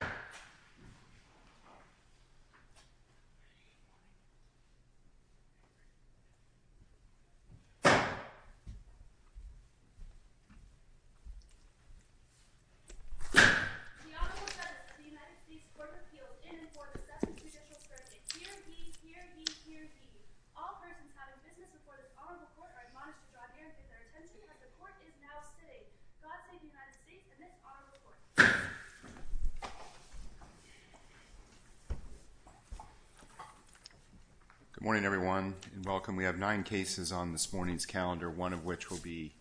The Honorable Judge of the United States Court of Appeals in and for the Session of the Judicial Circuit. Hear ye! Hear ye! Hear ye! All persons having business before the Honorable Court are admonished to draw near and pay their attention as the Court is now sitting. God save the United States and this Honorable Court. Good morning, everyone, and welcome. We have nine cases on this morning's calendar, one of which will be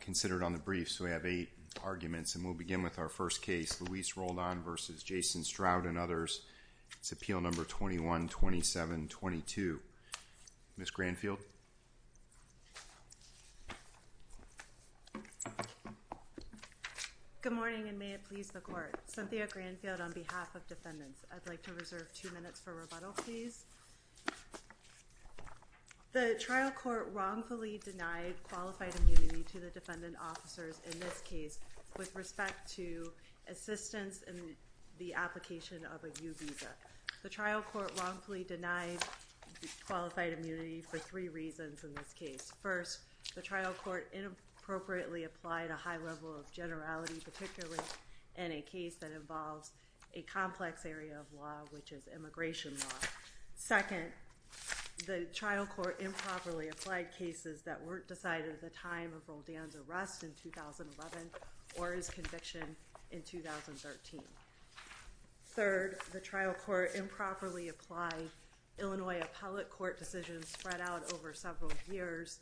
considered on the briefs. We have eight arguments, and we'll begin with our first case, Luis Roldan v. Jason Stroud and others. It's Appeal Number 21-27-22. Ms. Granfield? Good morning. Good morning and may it please the Court. Cynthia Granfield on behalf of Defendants. I'd like to reserve two minutes for rebuttal, please. The trial court wrongfully denied qualified immunity to the defendant officers in this case with respect to assistance in the application of a U-Visa. The trial court wrongfully denied qualified immunity for three reasons in this case. First, the trial court inappropriately applied a high level of generality, particularly in a case that involves a complex area of law, which is immigration law. Second, the trial court improperly applied cases that weren't decided at the time of Roldan's arrest in 2011 or his conviction in 2013. Third, the trial court improperly applied Illinois appellate court decisions spread out over several years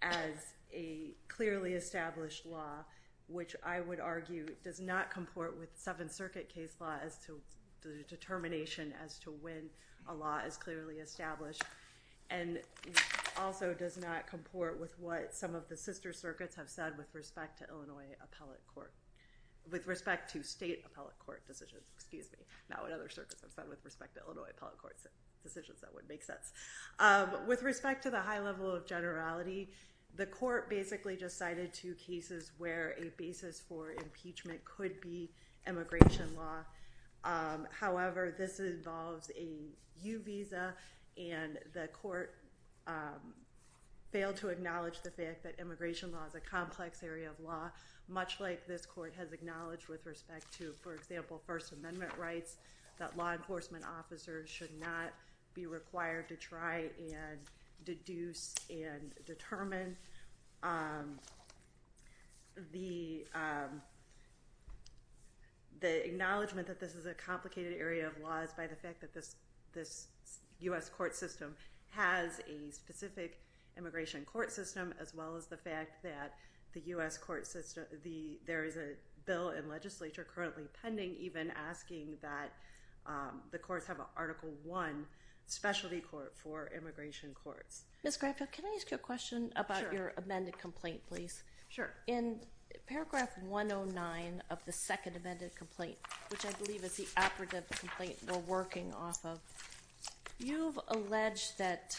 as a clearly established law, which I would argue does not comport with Seventh Circuit case law as to the determination as to when a law is clearly established, and also does not comport with what some of the sister circuits have said with respect to Illinois appellate court, with respect to state appellate court decisions, excuse me, not what other circuits have said with respect to Illinois appellate court decisions, that would make sense. With respect to the high level of generality, the court basically just cited two cases where a basis for impeachment could be immigration law. However, this involves a U-Visa, and the court failed to acknowledge the fact that immigration law is a complex area of law, much like this court has acknowledged with respect to, for example, that law enforcement officers should not be required to try and deduce and determine the acknowledgement that this is a complicated area of laws by the fact that this U.S. court system has a specific immigration court system, as well as the fact that the U.S. court system, there is a bill in legislature currently pending even asking that the courts have an Article 1 specialty court for immigration courts. Ms. Graff, can I ask you a question about your amended complaint, please? Sure. In paragraph 109 of the second amended complaint, which I believe is the operative complaint we're working off of, you've alleged that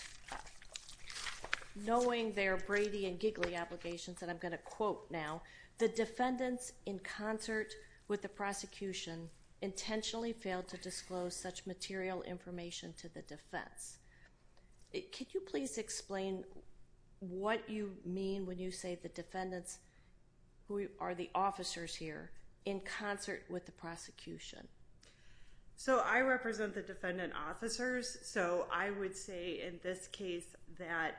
knowing their Brady and Gigli obligations, and I'm going to quote now, the defendants in concert with the prosecution intentionally failed to disclose such material information to the defense. Could you please explain what you mean when you say the defendants who are the officers here in concert with the prosecution? So I represent the defendant officers, so I would say in this case that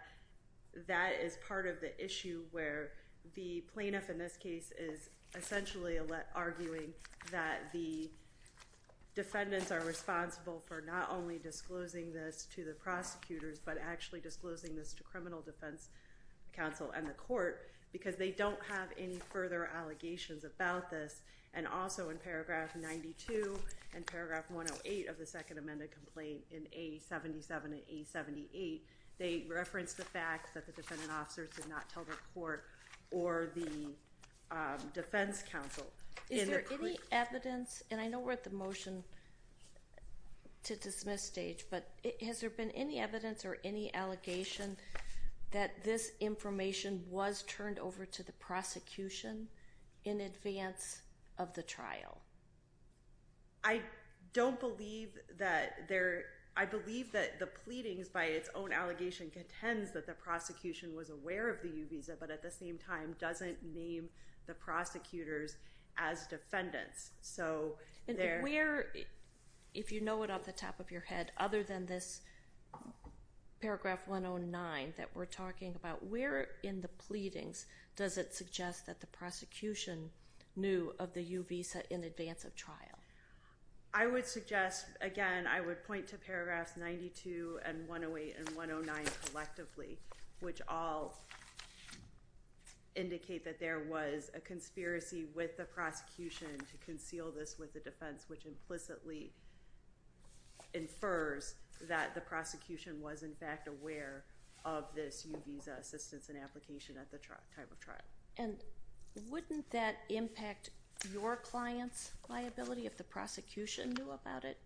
that is part of the issue where the plaintiff in this case is essentially arguing that the defendants are responsible for not only disclosing this to the prosecutors, but actually disclosing this to criminal defense counsel and the court, because they don't have any further allegations about this. And also in paragraph 92 and paragraph 108 of the second amended complaint in A77 and A78, they reference the fact that the defendant officers did not tell the court or the defense counsel. Is there any evidence, and I know we're at the motion to dismiss stage, but has there been any evidence or any allegation that this information was turned over to the prosecution in advance of the trial? I don't believe that there, I believe that the pleadings by its own allegation contends that the prosecution was aware of the U-Visa, but at the same time doesn't name the prosecutors as defendants. So where, if you know it off the top of your head, other than this paragraph 109 that we're talking about, where in the pleadings does it suggest that the prosecution knew of the U-Visa in advance of trial? I would suggest, again, I would point to paragraphs 92 and 108 and 109 collectively, which all indicate that there was a conspiracy with the prosecution to conceal this with the defense, which implicitly infers that the prosecution was in fact aware of this U-Visa assistance and application at the time of trial. And wouldn't that impact your client's liability if the prosecution knew about it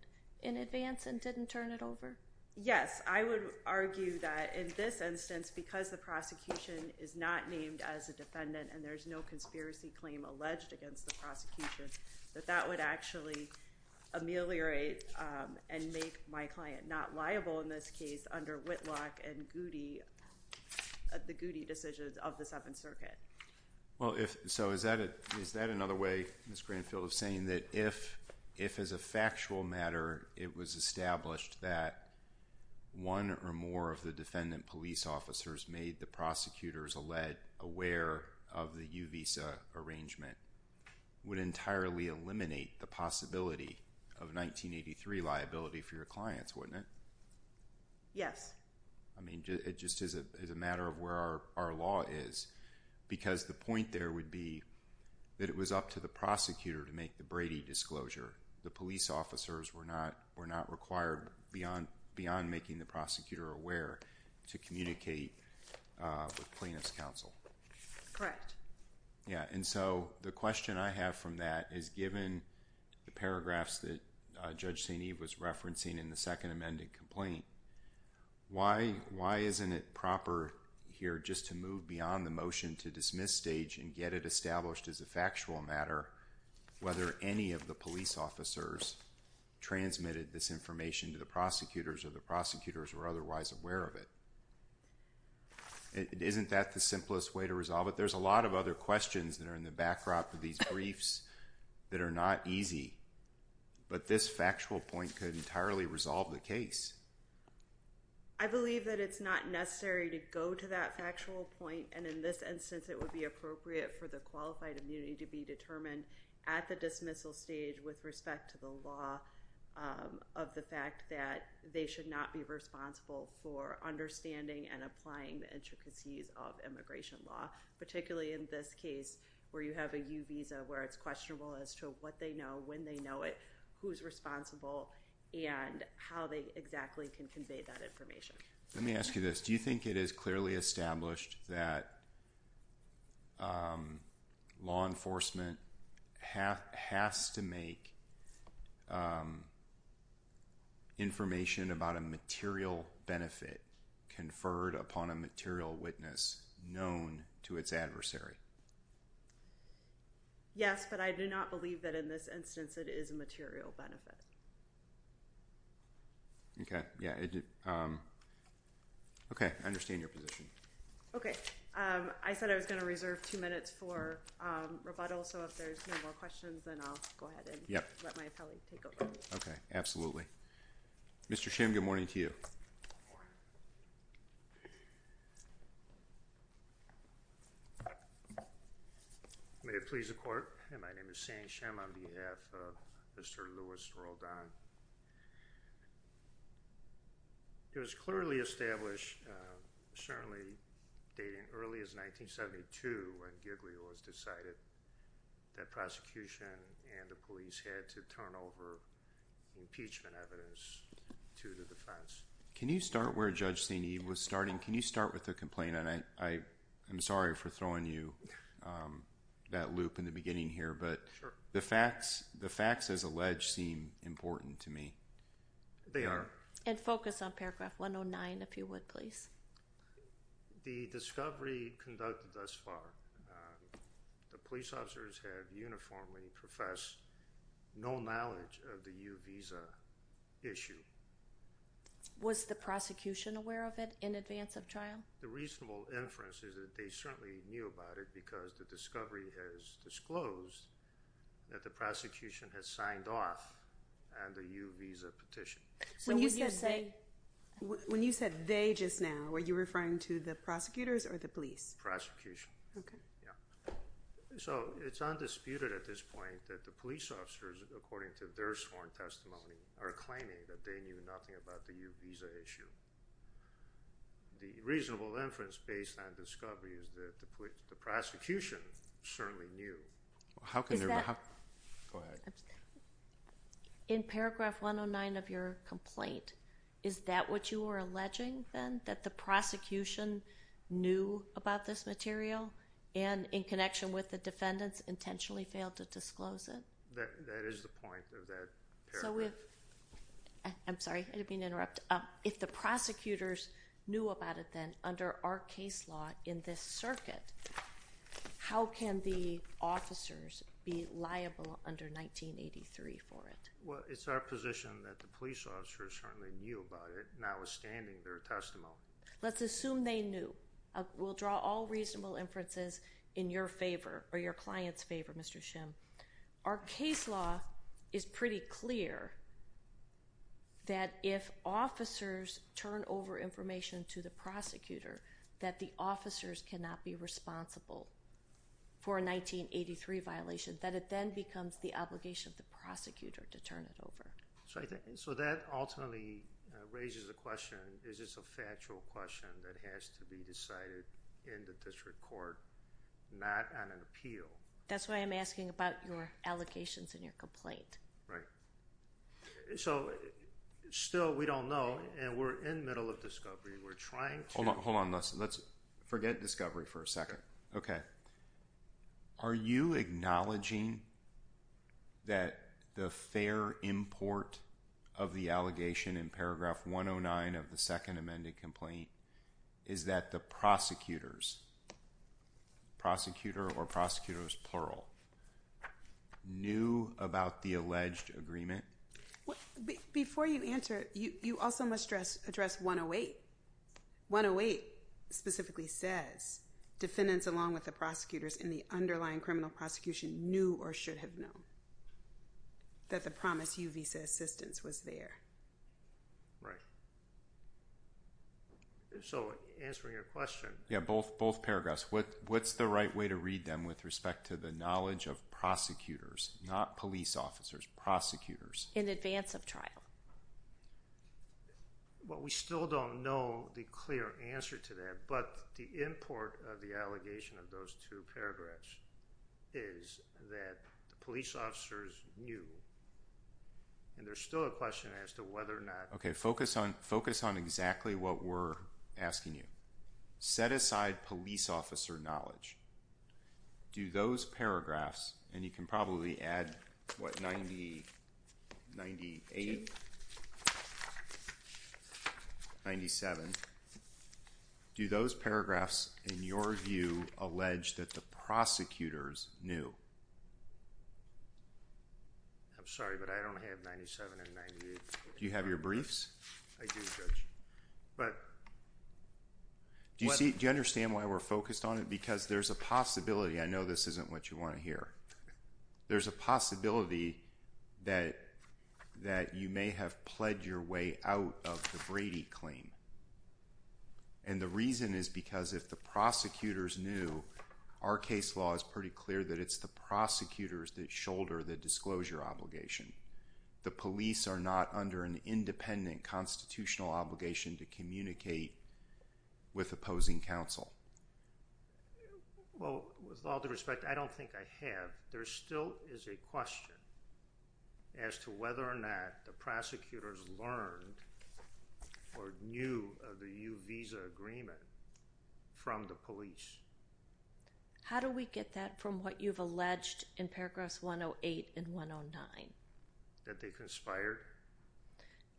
in advance and didn't turn it over? Yes, I would argue that in this instance, because the prosecution is not named as a defendant and there's no conspiracy claim alleged against the prosecution, that that would actually ameliorate and make my client not liable in this case under Whitlock and Well, so is that another way, Ms. Granfield, of saying that if as a factual matter it was established that one or more of the defendant police officers made the prosecutors alleged aware of the U-Visa arrangement would entirely eliminate the possibility of 1983 liability for your clients, wouldn't it? Yes. I mean, it just is a matter of where our law is. Because the point there would be that it was up to the prosecutor to make the Brady disclosure. The police officers were not required beyond making the prosecutor aware to communicate with plaintiff's counsel. Correct. Yeah, and so the question I have from that is given the paragraphs that Judge St. Eve was referencing in the second amended complaint, why isn't it proper here just to move beyond the motion to dismiss stage and get it established as a factual matter whether any of the police officers transmitted this information to the prosecutors or the prosecutors were otherwise aware of it? Isn't that the simplest way to resolve it? There's a lot of other questions that are in the backdrop of these briefs that are not easy, but this factual point could entirely resolve the case. I believe that it's not necessary to go to that factual point, and in this instance it would be appropriate for the qualified immunity to be determined at the dismissal stage with respect to the law of the fact that they should not be responsible for understanding and applying the intricacies of immigration law, particularly in this case where you have a U-Visa where it's questionable as to what they know, when they know it, who's responsible, and how they exactly can convey that information. Let me ask you this. Do you think it is clearly established that law enforcement has to make information about a material benefit conferred upon a material witness known to its adversary? Yes, but I do not believe that in this instance it is a material benefit. Okay. Yeah. Okay. I understand your position. Okay. I said I was going to reserve two minutes for rebuttal, so if there's no more questions, then I'll go ahead and let my appellee take over. Okay. Absolutely. Mr. Shim, good morning to you. Good morning. May it please the Court, my name is Sam Shim on behalf of Mr. Louis Roldan. It was clearly established, certainly dating as early as 1972 when Giglio was decided that prosecution and the police had to turn over impeachment evidence to the defense. Can you start where Judge Saini was starting? Can you start with the complaint, and I'm sorry for throwing you that loop in the beginning here, but the facts as alleged seem important to me. They are. And focus on paragraph 109, if you would, please. The discovery conducted thus far, the police officers have uniformly professed no knowledge of the U visa issue. Was the prosecution aware of it in advance of trial? The reasonable inference is that they certainly knew about it because the discovery has disclosed that the prosecution has signed off on the U visa petition. When you said they just now, were you referring to the prosecutors or the police? Prosecution. Okay. Yeah. So it's undisputed at this point that the police officers, according to their sworn testimony, are claiming that they knew nothing about the U visa issue. The reasonable inference based on discovery is that the prosecution certainly knew. How can there be, go ahead. In paragraph 109 of your complaint, is that what you were alleging then, that the prosecution knew about this material and in connection with the defendants intentionally failed to disclose it? That is the point of that paragraph. I'm sorry. I didn't mean to interrupt. If the prosecutors knew about it then, under our case law in this circuit, how can the officers be liable under 1983 for it? Well, it's our position that the police officers certainly knew about it, notwithstanding their testimony. No. Let's assume they knew. We'll draw all reasonable inferences in your favor or your client's favor, Mr. Shim. Our case law is pretty clear that if officers turn over information to the prosecutor, that the officers cannot be responsible for a 1983 violation, that it then becomes the obligation of the prosecutor to turn it over. So that ultimately raises the question, is this a factual question that has to be decided in the district court, not on an appeal? That's why I'm asking about your allegations in your complaint. Right. So, still we don't know and we're in the middle of discovery. We're trying to... Hold on. Hold on. Let's forget discovery for a second. Okay. Are you acknowledging that the fair import of the allegation in paragraph 109 of the second amended complaint is that the prosecutors, prosecutor or prosecutors plural, knew about the alleged agreement? Before you answer, you also must address 108. 108 specifically says, defendants along with the prosecutors in the underlying criminal prosecution knew or should have known that the promised U visa assistance was there. Right. So, answering your question... Yeah. Both paragraphs. What's the right way to read them with respect to the knowledge of prosecutors, not police officers, prosecutors... In advance of trial. Well, we still don't know the clear answer to that, but the import of the allegation of those two paragraphs is that the police officers knew and there's still a question as to whether or not... Okay. Focus on exactly what we're asking you. Set aside police officer knowledge. Do those paragraphs, and you can probably add, what, 90, 98, 97, do those paragraphs in your view allege that the prosecutors knew? I'm sorry, but I don't have 97 and 98... Do you have your briefs? I do, Judge, but... Do you understand why we're focused on it? Because there's a possibility, I know this isn't what you want to hear, there's a possibility that you may have pledged your way out of the Brady claim. And the reason is because if the prosecutors knew, our case law is pretty clear that it's the prosecutors that shoulder the disclosure obligation. The police are not under an independent constitutional obligation to communicate with opposing counsel. Well, with all due respect, I don't think I have. There still is a question as to whether or not the prosecutors learned or knew of the U visa agreement from the police. How do we get that from what you've alleged in paragraphs 108 and 109? That they conspired?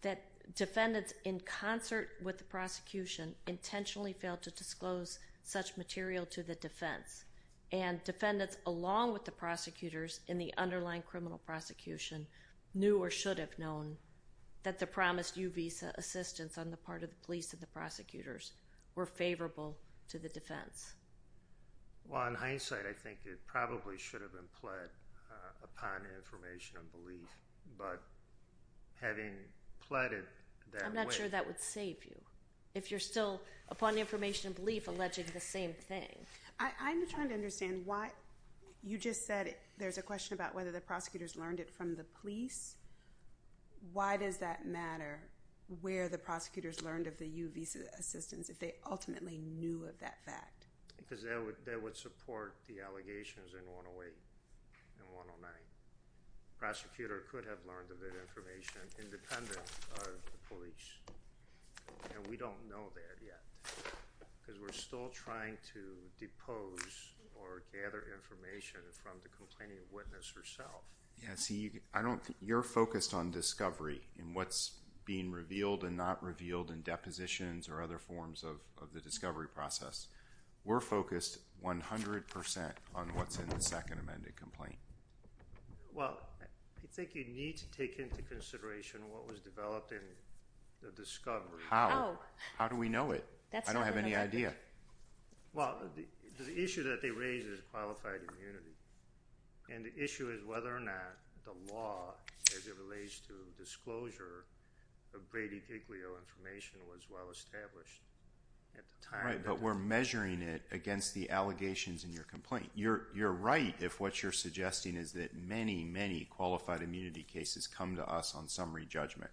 That defendants in concert with the prosecution intentionally failed to disclose such material to the defense, and defendants along with the prosecutors in the underlying criminal prosecution knew or should have known that the promised U visa assistance on the part of the police and the prosecutors were favorable to the defense. Well, in hindsight, I think it probably should have been pled upon information and belief. But having pled it that way. I'm not sure that would save you. If you're still, upon information and belief, alleging the same thing. I'm trying to understand why you just said there's a question about whether the prosecutors learned it from the police. Why does that matter where the prosecutors learned of the U visa assistance if they ultimately knew of that fact? Because that would support the allegations in 108 and 109. Prosecutor could have learned of that information independent of the police. We don't know that yet because we're still trying to depose or gather information from the complaining witness herself. Yes. You're focused on discovery and what's being revealed and not revealed in depositions or other forms of the discovery process. We're focused 100% on what's in the second amended complaint. Well, I think you need to take into consideration what was developed in the discovery. How? How do we know it? I don't have any idea. Well, the issue that they raise is qualified immunity. And the issue is whether or not the law as it relates to disclosure of Brady-Iglio information was well-established. Right. But we're measuring it against the allegations in your complaint. You're right if what you're suggesting is that many, many qualified immunity cases come to us on summary judgment.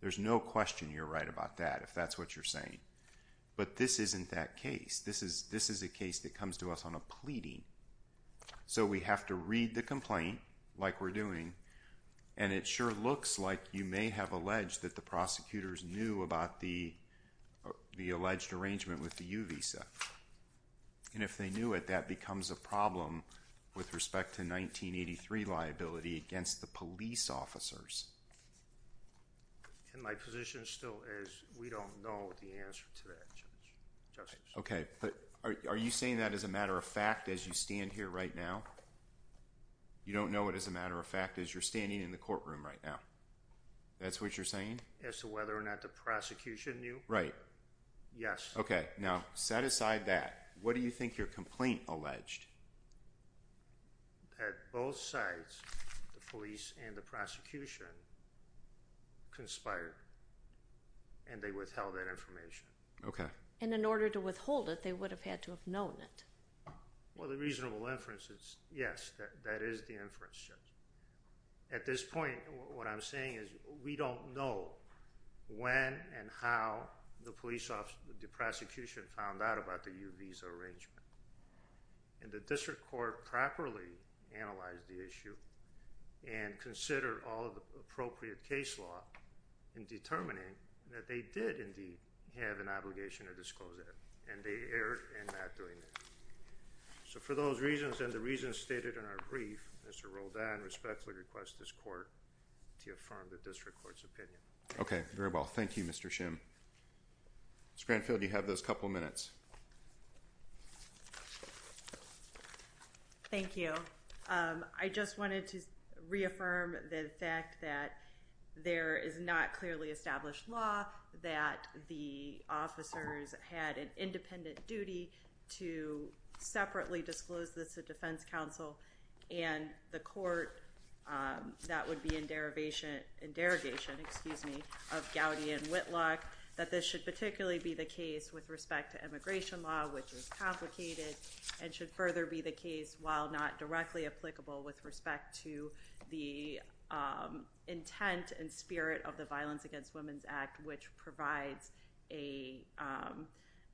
There's no question you're right about that if that's what you're saying. But this isn't that case. This is a case that comes to us on a pleading. So we have to read the complaint like we're doing. And it sure looks like you may have alleged that the prosecutors knew about the alleged arrangement with the U-Visa. And if they knew it, that becomes a problem with respect to 1983 liability against the police officers. And my position still is we don't know the answer to that, Judge. Okay. But are you saying that as a matter of fact as you stand here right now? You don't know it as a matter of fact as you're standing in the courtroom right now? That's what you're saying? As to whether or not the prosecution knew? Right. Yes. Okay. Now, set aside that. What do you think your complaint alleged? That both sides, the police and the prosecution, conspired and they withheld that information. Okay. And in order to withhold it, they would have had to have known it. Well, the reasonable inference is yes, that is the inference, Judge. At this point, what I'm saying is we don't know when and how the police officer, the prosecution found out about the U-Visa arrangement. And the district court properly analyzed the issue and considered all of the appropriate case law in determining that they did indeed have an obligation to disclose it. And they erred in not doing that. So for those reasons and the reasons stated in our brief, Mr. Roldan respectfully requests this court to affirm the district court's opinion. Okay. Very well. Thank you, Mr. Shim. Ms. Granfield, you have those couple minutes. Thank you. I just wanted to reaffirm the fact that there is not clearly established law that the officers had an independent duty to separately disclose this to defense counsel and the court that would be in derogation of Gowdy and Whitlock, that this should particularly be the case with respect to immigration law, which is complicated and should further be the case while not directly applicable with respect to the intent and spirit of the Violence Against Women's Act, which provides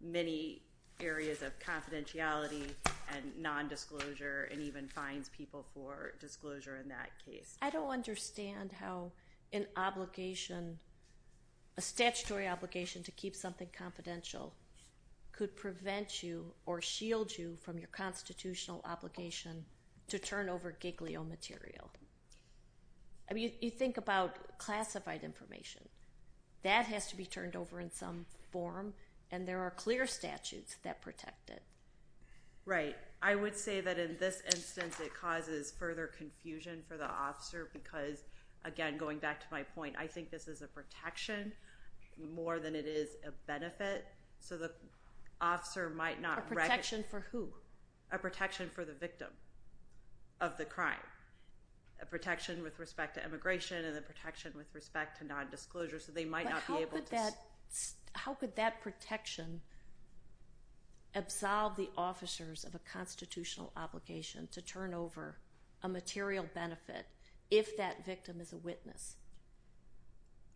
many areas of confidentiality and nondisclosure and even fines people for disclosure in that case. I don't understand how an obligation, a statutory obligation to keep something confidential could prevent you or shield you from your constitutional obligation to turn over Giglio material. I mean, you think about classified information, that has to be turned over in some form and there are clear statutes that protect it. Right. I would say that in this instance, it causes further confusion for the officer because, again, going back to my point, I think this is a protection more than it is a benefit, so the officer might not wreck it. Protection for who? A protection for the victim of the crime, a protection with respect to immigration and a protection with respect to nondisclosure, so they might not be able to... How could that protection absolve the officers of a constitutional obligation to turn over a material benefit if that victim is a witness?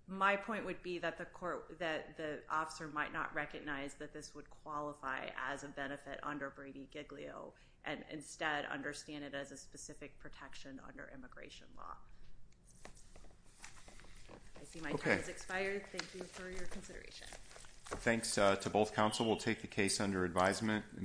My point would be that the officer might not recognize that this would qualify as a benefit under Brady-Giglio and instead understand it as a specific protection under immigration law. I see my time has expired. Thank you for your consideration. Thanks to both counsel. We'll take the case under advisement.